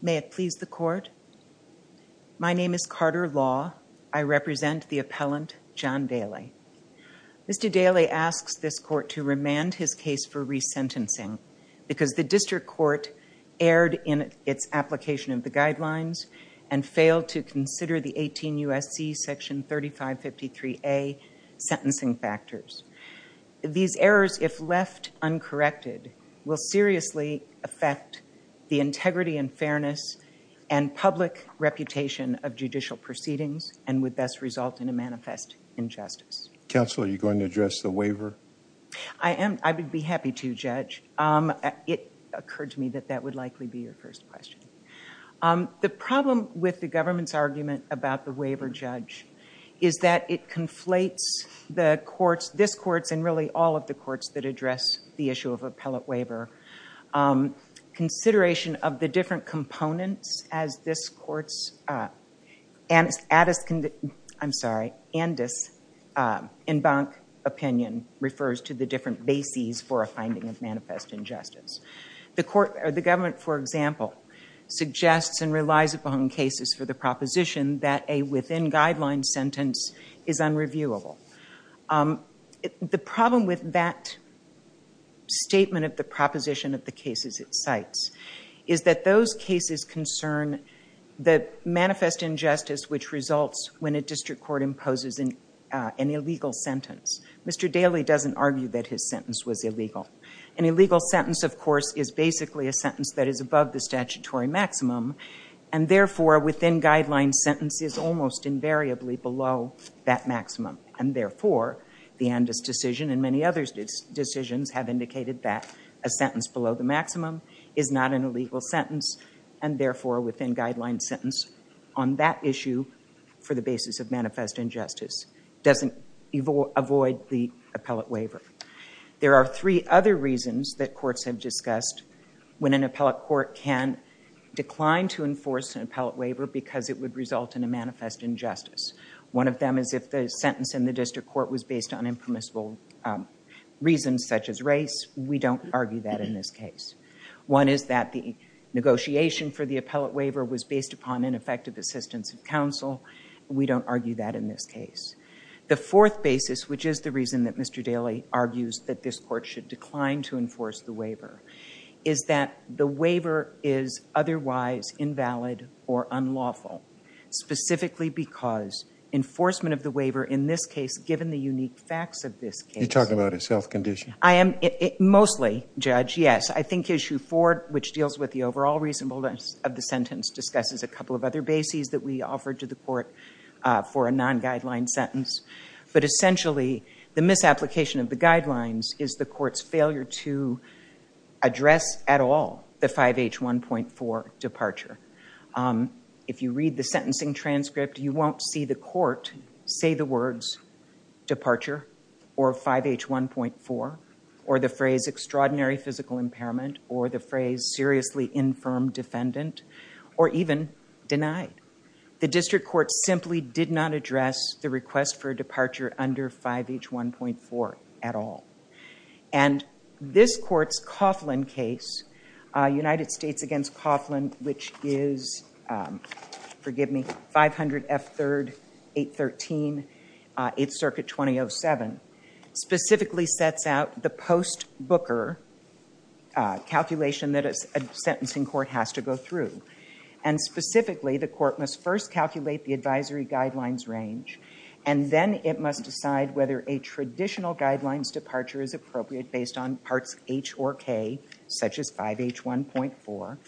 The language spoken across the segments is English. May it please the court. My name is Carter Law. I represent the appellant John Dailey. Mr. Dailey asks this court to remand his case for resentencing because the district court erred in its application of the guidelines and failed to consider the 18 U.S.C. section 3553A sentencing factors. These errors, if left uncorrected, will seriously affect the integrity and fairness and public reputation of judicial proceedings and would thus result in a manifest injustice. Counsel, are you going to address the waiver? I would be happy to judge. It occurred to me that that would likely be your first question. The problem with the government's argument about the waiver judge is that it conflates the courts, this courts and really all of the courts that address the issue of appellate waiver. Consideration of the different components as this court's, I'm sorry, and this opinion refers to the different bases for a finding of manifest injustice. The government, for example, suggests and relies upon cases for the proposition that a within guidelines sentence is unreviewable. The problem with that statement of the proposition of the cases it cites is that those cases concern the manifest injustice which results when a district court imposes an illegal sentence. Mr. Dailey doesn't argue that his sentence was illegal. An illegal sentence, of course, is basically a within guidelines sentence is almost invariably below that maximum and therefore the Andis decision and many other decisions have indicated that a sentence below the maximum is not an illegal sentence and therefore a within guidelines sentence on that issue for the basis of manifest injustice doesn't avoid the appellate waiver. There are three other reasons that courts have because it would result in a manifest injustice. One of them is if the sentence in the district court was based on impermissible reasons such as race. We don't argue that in this case. One is that the negotiation for the appellate waiver was based upon ineffective assistance of counsel. We don't argue that in this case. The fourth basis which is the reason that Mr. Dailey argues that this court should decline to enforce the waiver is that the waiver is otherwise invalid or unlawful specifically because enforcement of the waiver in this case given the unique facts of this case. You're talking about a self-condition. I am, mostly, judge, yes. I think issue four which deals with the overall reasonableness of the sentence discusses a couple of other bases that we offered to the court for a non-guideline sentence but essentially the misapplication of the guidelines is the court's failure to address at all the 5H 1.4 departure. If you read the sentencing transcript you won't see the court say the words departure or 5H 1.4 or the phrase extraordinary physical impairment or the phrase seriously infirm defendant or even denied. The district court simply did not address the request for which is, forgive me, 500 F 3rd 813 8th circuit 2007 specifically sets out the post booker calculation that a sentencing court has to go through and specifically the court must first calculate the advisory guidelines range and then it must decide whether a traditional guidelines departure is appropriate based on parts H or K such as 5H 1.4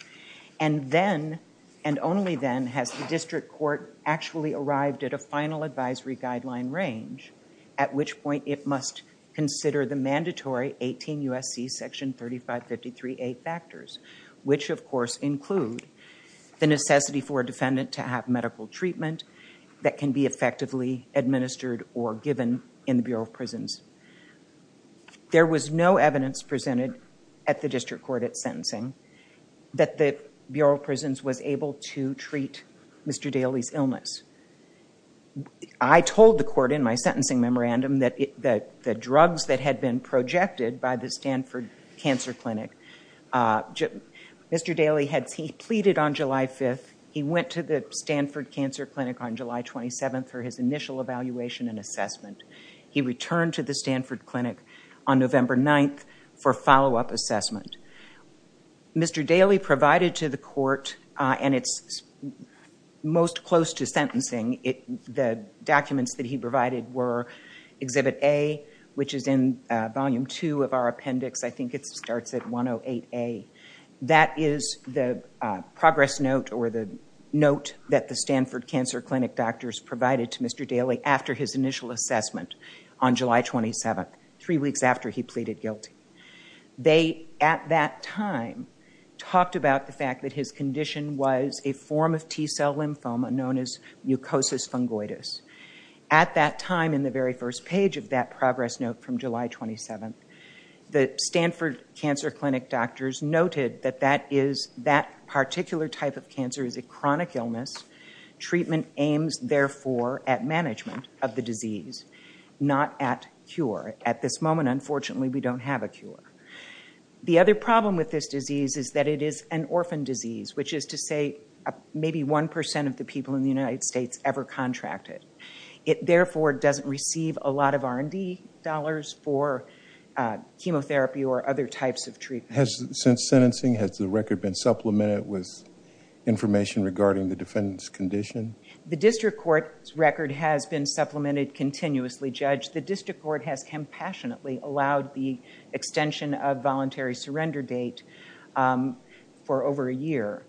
and then and only then has the district court actually arrived at a final advisory guideline range at which point it must consider the mandatory 18 USC section 3553A factors which of course include the necessity for a defendant to have medical treatment that can be effectively administered or given in the Bureau of Prisons. There was no evidence presented at the district court at sentencing that the Bureau of Prisons was able to treat Mr. Daly's illness. I told the court in my sentencing memorandum that the drugs that had been projected by the Stanford Cancer Clinic, Mr. Daly had pleaded on July 5th, he went to the Stanford Cancer Clinic on July 27th for his initial evaluation and assessment. He returned to the clinic on November 9th for follow-up assessment. Mr. Daly provided to the court and it's most close to sentencing. The documents that he provided were exhibit A which is in volume 2 of our appendix. I think it starts at 108A. That is the progress note or the note that the Stanford Cancer Clinic doctors provided to Mr. Daly after his initial assessment on July 27th. Three weeks after he pleaded guilty. They, at that time, talked about the fact that his condition was a form of T-cell lymphoma known as mucosis fungoides. At that time in the very first page of that progress note from July 27th, the Stanford Cancer Clinic doctors noted that that particular type of cancer is a chronic illness. Treatment aims therefore at management of the disease, not at cure. At this moment, unfortunately, we don't have a cure. The other problem with this disease is that it is an orphan disease, which is to say maybe 1% of the people in the United States ever contracted. It therefore doesn't receive a lot of R&D dollars for chemotherapy or other types of treatment. Since sentencing, has the record been supplemented with information regarding the defendant's condition? The district court's record has been supplemented continuously, Judge. The district court has compassionately allowed the extension of voluntary surrender date for over a year.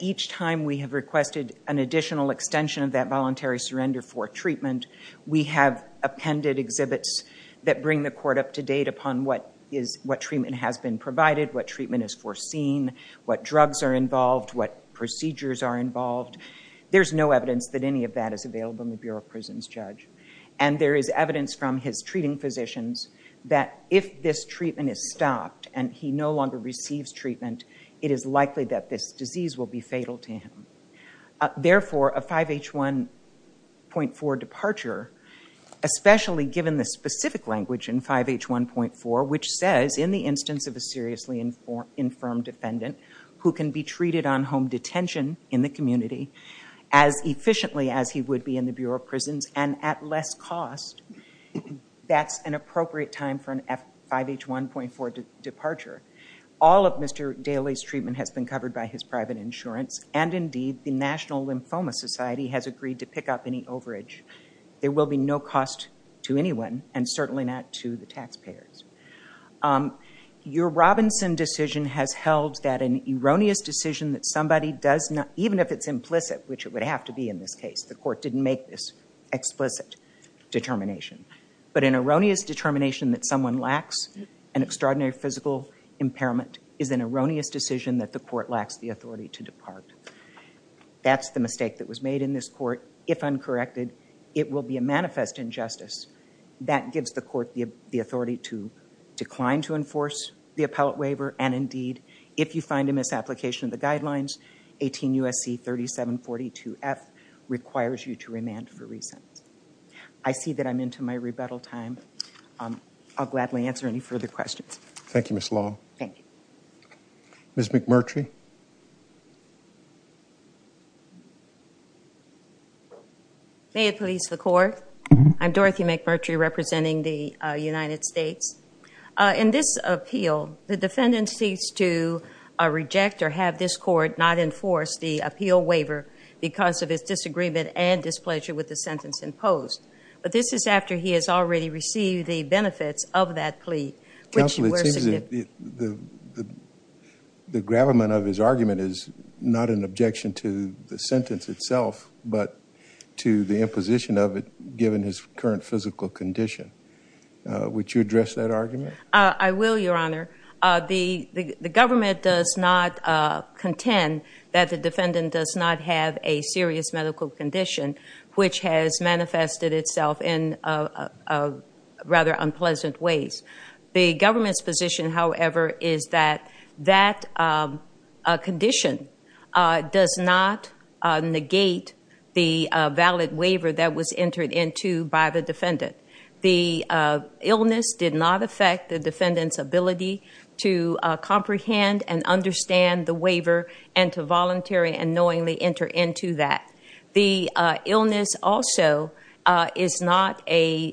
Each time we have requested an additional extension of that voluntary surrender for treatment, we have appended exhibits that bring the court up to date upon what treatment has been provided, what treatment is foreseen, what drugs are involved, what procedures are involved. There's no evidence that any of that is available in the Bureau of Prisons, Judge. And there is evidence from his treating physicians that if this treatment is stopped and he no longer receives treatment, it is likely that this disease will be fatal to him. Therefore, a 5H1.4 departure, especially given the specific language in 5H1.4, which says, in the instance of a seriously infirmed defendant who can be treated on home detention in the community as efficiently as he would be in the Bureau of Prisons and at less cost, that's an appropriate time for a 5H1.4 departure. All of Mr. Daley's treatment has been covered by his private insurance, and indeed, the National Lymphoma Society has agreed to pick up any Your Robinson decision has held that an erroneous decision that somebody does not, even if it's implicit, which it would have to be in this case, the court didn't make this explicit determination. But an erroneous determination that someone lacks an extraordinary physical impairment is an erroneous decision that the court lacks the authority to depart. That's the mistake that was made in this court. If uncorrected, it will be a manifest injustice. That gives the court the authority to decline to enforce the appellate waiver, and indeed, if you find a misapplication of the guidelines, 18 U.S.C. 3742F requires you to remand for re-sentence. I see that I'm into my rebuttal time. I'll gladly answer any further questions. Thank you, Ms. Long. Thank you. Ms. McMurtry. May it please the court. I'm Dorothy McMurtry representing the United States. In this appeal, the defendant seeks to reject or have this court not enforce the appeal waiver because of his disagreement and displeasure with the sentence imposed. But this is after he has already received the benefits of that plea, which you were suggesting. Counsel, it seems that the gravamen of this case is the fact that the defendant has already is not an objection to the sentence itself, but to the imposition of it, given his current physical condition. Would you address that argument? I will, Your Honor. The government does not contend that the defendant does not have a serious medical condition, which has manifested itself in rather unpleasant ways. The government's however, is that that condition does not negate the valid waiver that was entered into by the defendant. The illness did not affect the defendant's ability to comprehend and understand the waiver and to voluntarily and knowingly enter into that. The illness also is not a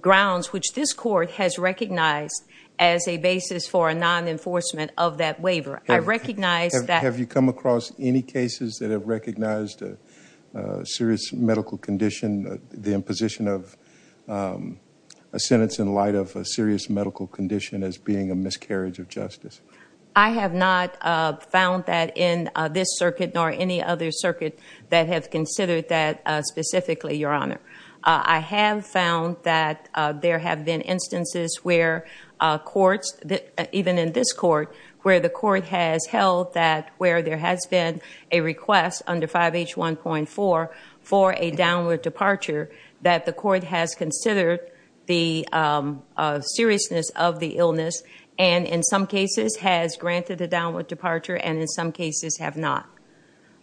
grounds which this court has recognized as a basis for a non-enforcement of that waiver. I recognize that... Have you come across any cases that have recognized a serious medical condition, the imposition of a sentence in light of a serious medical condition as being a miscarriage of justice? I have not found that in this circuit nor any other circuit that have considered that specifically, Your Honor. I have found that there have been instances where courts, even in this court, where the court has held that where there has been a request under 5H1.4 for a downward departure that the court has considered the seriousness of the illness and in some cases has granted a downward departure and in some cases have not.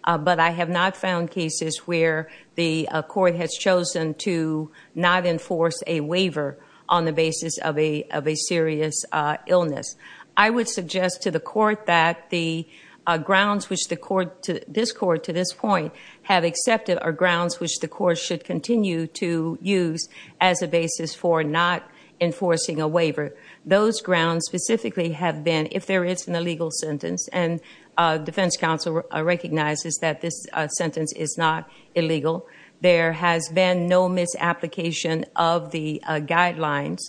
But I have not found cases where the court has chosen to not enforce a waiver on the basis of a serious illness. I would suggest to the court that the grounds which this court to this point have accepted are grounds which the court should continue to use as a basis for not enforcing a waiver. Those grounds specifically have been, if there is an illegal sentence, and defense counsel recognizes that this sentence is not illegal. There has been no misapplication of the guidelines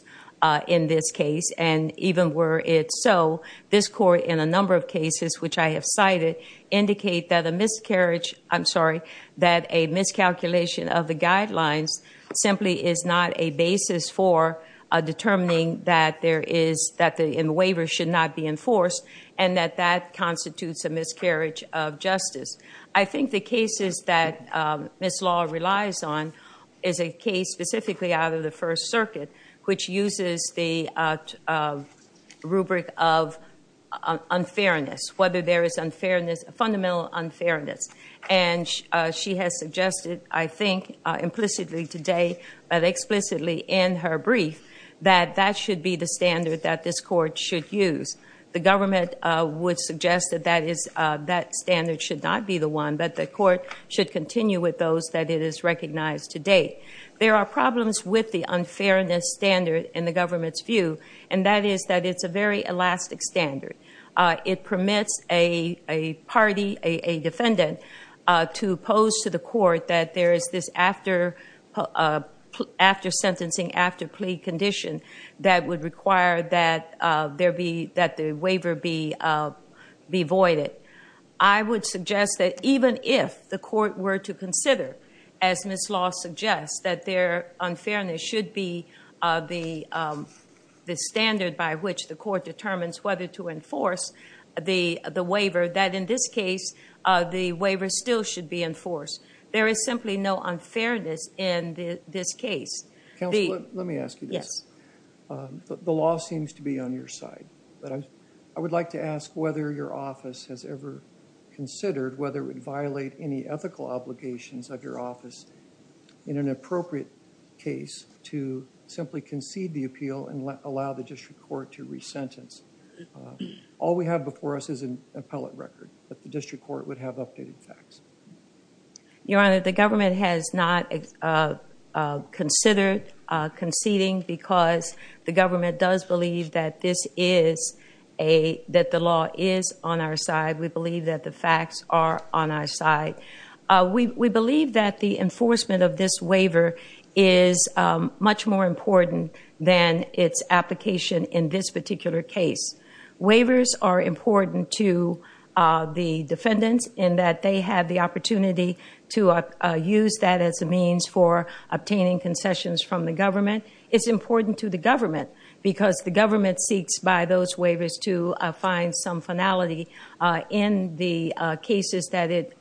in this case and even were it so, this court in a number of cases which I have cited indicate that a miscarriage, I'm sorry, that a miscalculation of the guidelines simply is not a basis for determining that there is, that the waiver should not be enforced and that that constitutes a miscarriage of justice. I think the cases that Ms. Law relies on is a case specifically out of the First Circuit which uses the rubric of unfairness, whether there is unfairness, fundamental unfairness. And she has suggested, I think implicitly today, but explicitly in her brief, that that should be the standard that this court should use. The government would suggest that that standard should not be the one, that the court should continue with those that it has recognized to date. There are problems with the unfairness standard in the government's view, and that is that it's a very elastic standard. It permits a party, a defendant, to pose to the court that there is this after-sentencing, after-plea condition that would require that the waiver be voided. I would suggest that even if the court were to consider, as Ms. Law suggests, that their unfairness should be the standard by which the court determines whether to enforce the waiver, that in this case the waiver still should be the standard. The law seems to be on your side, but I would like to ask whether your office has ever considered whether it would violate any ethical obligations of your office in an appropriate case to simply concede the appeal and allow the district court to re-sentence. All we have before us is an appellate record, but the district court would have updated facts. Your Honor, the government has not considered conceding because the government does believe that the law is on our side. We believe that the facts are on our side. We believe that the enforcement of this waiver is much more important than its application in this particular case. Waivers are important to the defendants in that they have the opportunity to use that as a means for obtaining concessions from the government. It's important to the government because the government seeks by those waivers to find some finality in the cases that it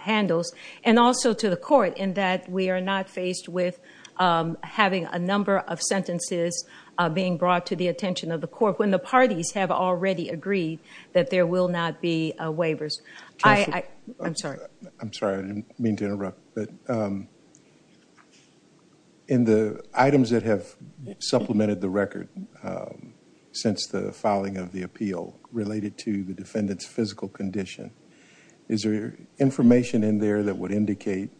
handles, and also to the court in that we are not faced with having a number of sentences being brought to the attention of the parties have already agreed that there will not be waivers. I'm sorry. I'm sorry. I didn't mean to interrupt, but in the items that have supplemented the record since the filing of the appeal related to the defendant's physical condition, is there information in there that would indicate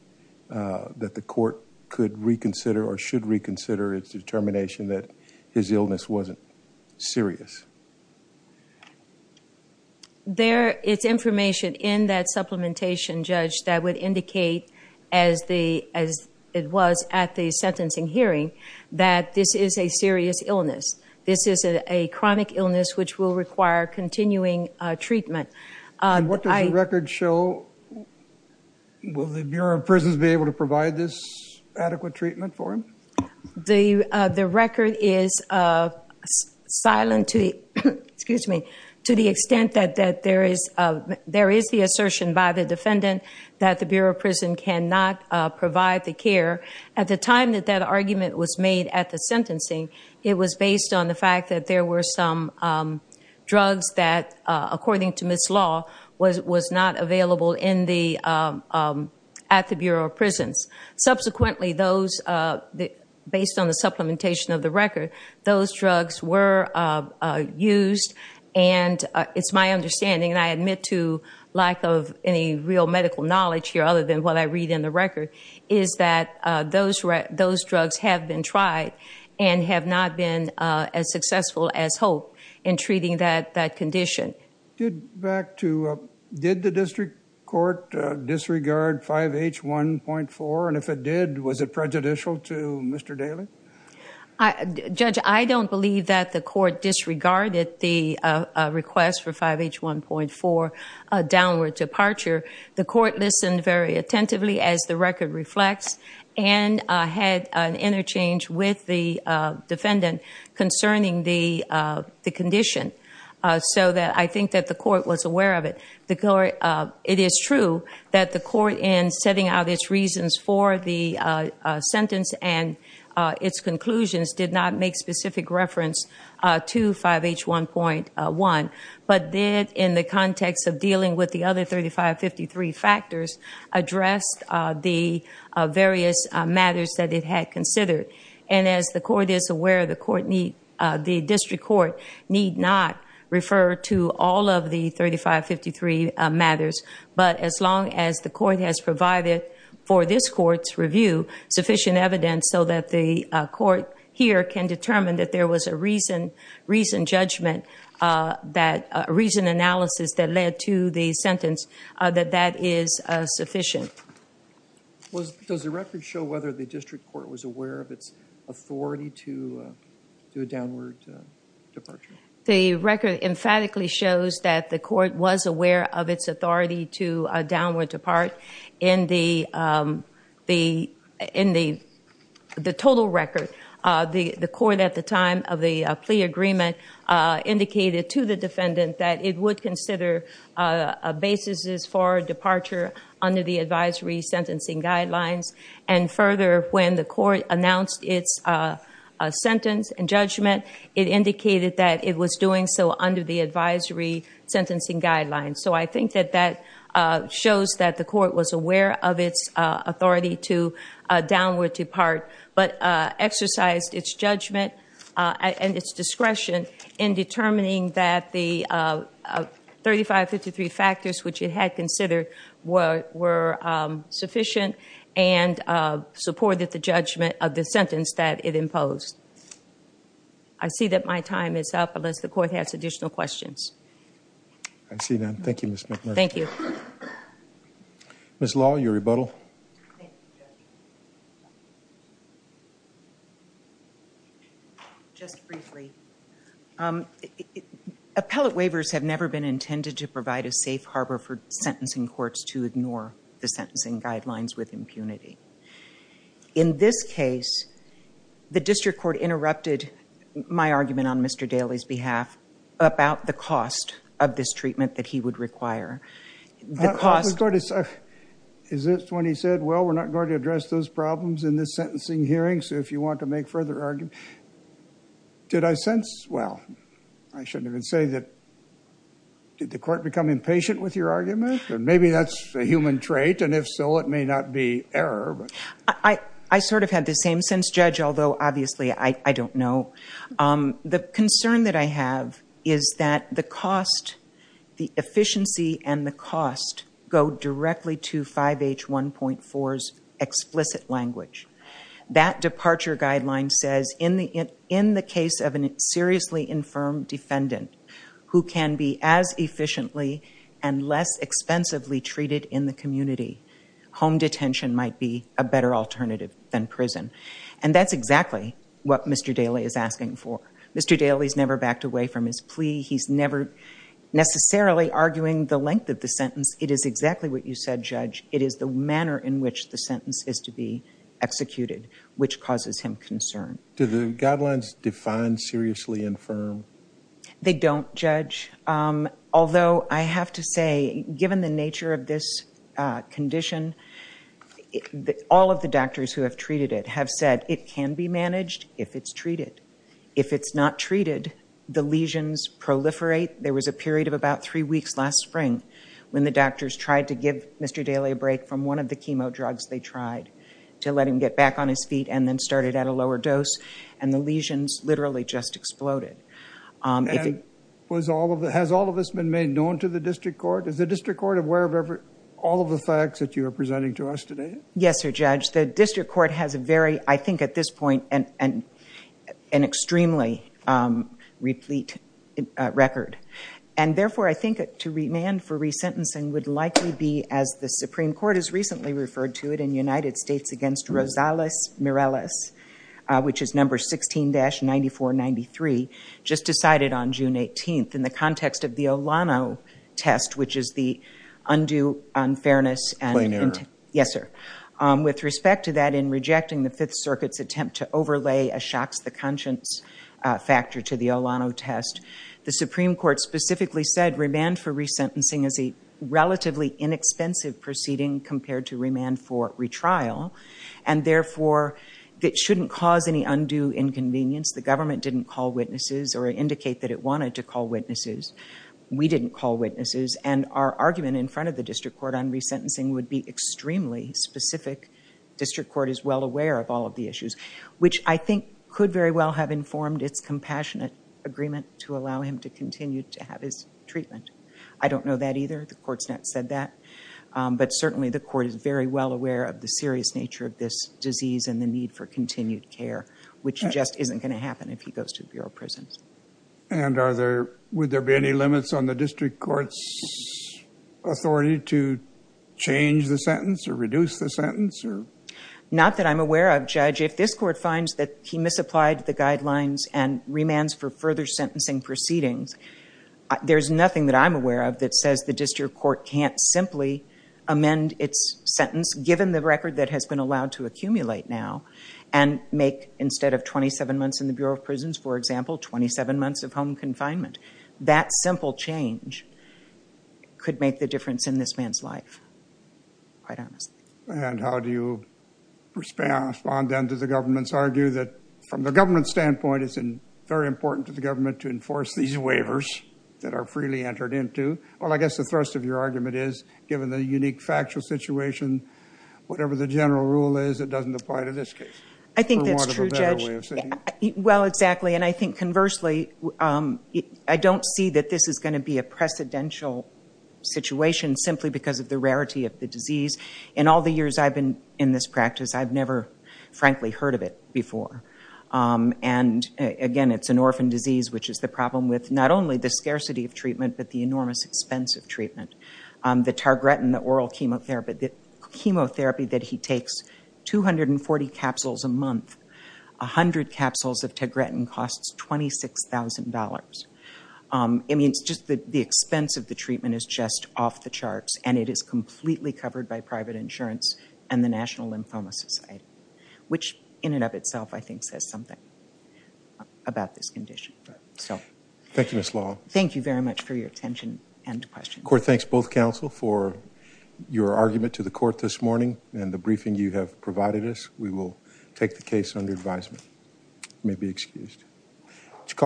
that the court could reconsider or should reconsider its determination that his illness wasn't serious? There is information in that supplementation, Judge, that would indicate as it was at the sentencing hearing that this is a serious illness. This is a chronic illness which will require continuing treatment. And what does the record show? Will the Bureau of Prisons be able to provide this adequate treatment for him? The record is silent to the extent that there is the assertion by the defendant that the Bureau of Prisons cannot provide the care. At the time that that argument was made at the sentencing, it was based on the fact that there Subsequently, based on the supplementation of the record, those drugs were used. And it's my understanding, and I admit to lack of any real medical knowledge here other than what I read in the record, is that those drugs have been tried and have not been as successful as hoped in treating that condition. Did the district court disregard 5H1.4? And if it did, was it prejudicial to Mr. Daly? Judge, I don't believe that the court disregarded the request for 5H1.4 downward departure. The court listened very attentively as the record reflects and had an interchange with the defendant concerning the condition. So I think that the court was aware of it. It is true that the court, in setting out its reasons for the sentence and its conclusions, did not make specific reference to 5H1.1, but did, in the context of dealing with the other 3553 factors, address the various matters that it had considered. And as the court is aware, the district court need not refer to all of the 3553 matters. But as long as the court has provided for this court's review sufficient evidence so that the court here can determine that there was a reasoned analysis that led to the sentence, that that is sufficient. Does the record show whether the district court was aware of its authority to do a downward departure? The record emphatically shows that the court was aware of its authority to downward depart in the total record. The court at the time of the plea agreement indicated to the defendant that it would consider a basis for departure under the advisory sentencing guidelines. And further, when the court announced its sentence and judgment, it indicated that it was doing so under the advisory sentencing guidelines. So I think that that shows that the court was aware of its authority to downward depart, but exercised its judgment and its discretion in determining that the 3553 factors which it had considered were sufficient and supported the judgment of the sentence that it imposed. I see that my time is up unless the court has additional questions. I see none. Thank you, Ms. McMurray. Thank you. Ms. Law, your rebuttal. Thank you, Judge. Just briefly, appellate waivers have never been intended to provide a safe harbor for sentencing courts to ignore the sentencing guidelines with impunity. In this case, the district court interrupted my argument on Mr. Daly's behalf about the cost of this treatment that he would require. Is this when he said, well, we're not going to address those problems in this sentencing hearing, so if you want to make further arguments. Did I sense, well, I shouldn't even say that. Did the court become impatient with your argument? And maybe that's a human trait, and if so, it may not be error. I sort of had the same sense, Judge, although obviously I don't know. The concern that I have is that the cost, the efficiency and the cost go directly to 5H 1.4's explicit language. That departure guideline says in the case of a seriously infirm defendant who can be as efficiently and less expensively treated in the community, home detention might be a better alternative than prison, and that's exactly what Mr. Daly is asking for. Mr. Daly's never backed away from his plea. He's never necessarily arguing the length of the sentence. It is exactly what you said, Judge. It is the manner in which the sentence is to be executed, which causes him concern. Do the guidelines define seriously infirm? They don't, Judge, although I have to say, given the nature of this condition, all of the doctors who have treated it have said it can be managed if it's treated. If it's not treated, the lesions proliferate. There was a period of about three weeks last spring when the doctors tried to give Mr. Daly a break from one of the chemo drugs they tried to let him get back on his feet and then started at a lower dose, and the lesions literally just exploded. Has all of this been made known to the district court? Is the district court aware of all of the facts that you are presenting to us today? Yes, sir, Judge. The district court has a very, I think at this point, an extremely replete record, and therefore I think to remand for resentencing would likely be, as the Supreme Court has recently referred to it in the United States against Rosales Mireles, which is number 16-9493, just decided on June 18th in the context of the Olano test, which is the undue unfairness. Plain error. Yes, sir. With respect to that, in rejecting the Fifth Circuit's attempt to overlay a shocks the conscience factor to the Olano test, the Supreme Court specifically said remand for resentencing is a relatively inexpensive proceeding compared to remand for consent. It shouldn't cause any undue inconvenience. The government didn't call witnesses or indicate that it wanted to call witnesses. We didn't call witnesses, and our argument in front of the district court on resentencing would be extremely specific. District court is well aware of all of the issues, which I think could very well have informed its compassionate agreement to allow him to continue to have his treatment. I don't know that either. The court's not said that, but certainly the court is very well aware of the serious nature of this disease and the need for continued care, which just isn't going to happen if he goes to the Bureau of Prisons. And would there be any limits on the district court's authority to change the sentence or reduce the sentence? Not that I'm aware of, Judge. If this court finds that he misapplied the guidelines and remands for further sentencing proceedings, there's nothing that I'm aware of that says the district court can't simply amend its sentence, given the record that has been allowed to accumulate now, and make, instead of 27 months in the Bureau of Prisons, for example, 27 months of home confinement. That simple change could make the difference in this man's life, quite honestly. And how do you respond then to the government's argument that, from the government's standpoint, it's very important to the government to enforce these waivers that are freely entered into? Well, I guess the thrust of your argument is, given the unique factual situation, whatever the general rule is, it doesn't apply to this case. I think that's true, Judge. Well, exactly. And I think conversely, I don't see that this is going to be a precedential situation simply because of the rarity of the disease. In all the years I've been in this practice, I've never, frankly, heard of it before. And again, it's an orphan disease, which is the problem with not only the treatment, the targretin, the oral chemotherapy, the chemotherapy that he takes, 240 capsules a month. A hundred capsules of targretin costs $26,000. I mean, it's just the expense of the treatment is just off the charts, and it is completely covered by private insurance and the National Lymphoma Society, which in and of itself, I think, says something about this condition. Thank you, Ms. Law. Thank you very much for your attention and questions. Court, thanks both counsel for your argument to the court this morning and the briefing you have provided us. We will take the case under advisement. You may be excused.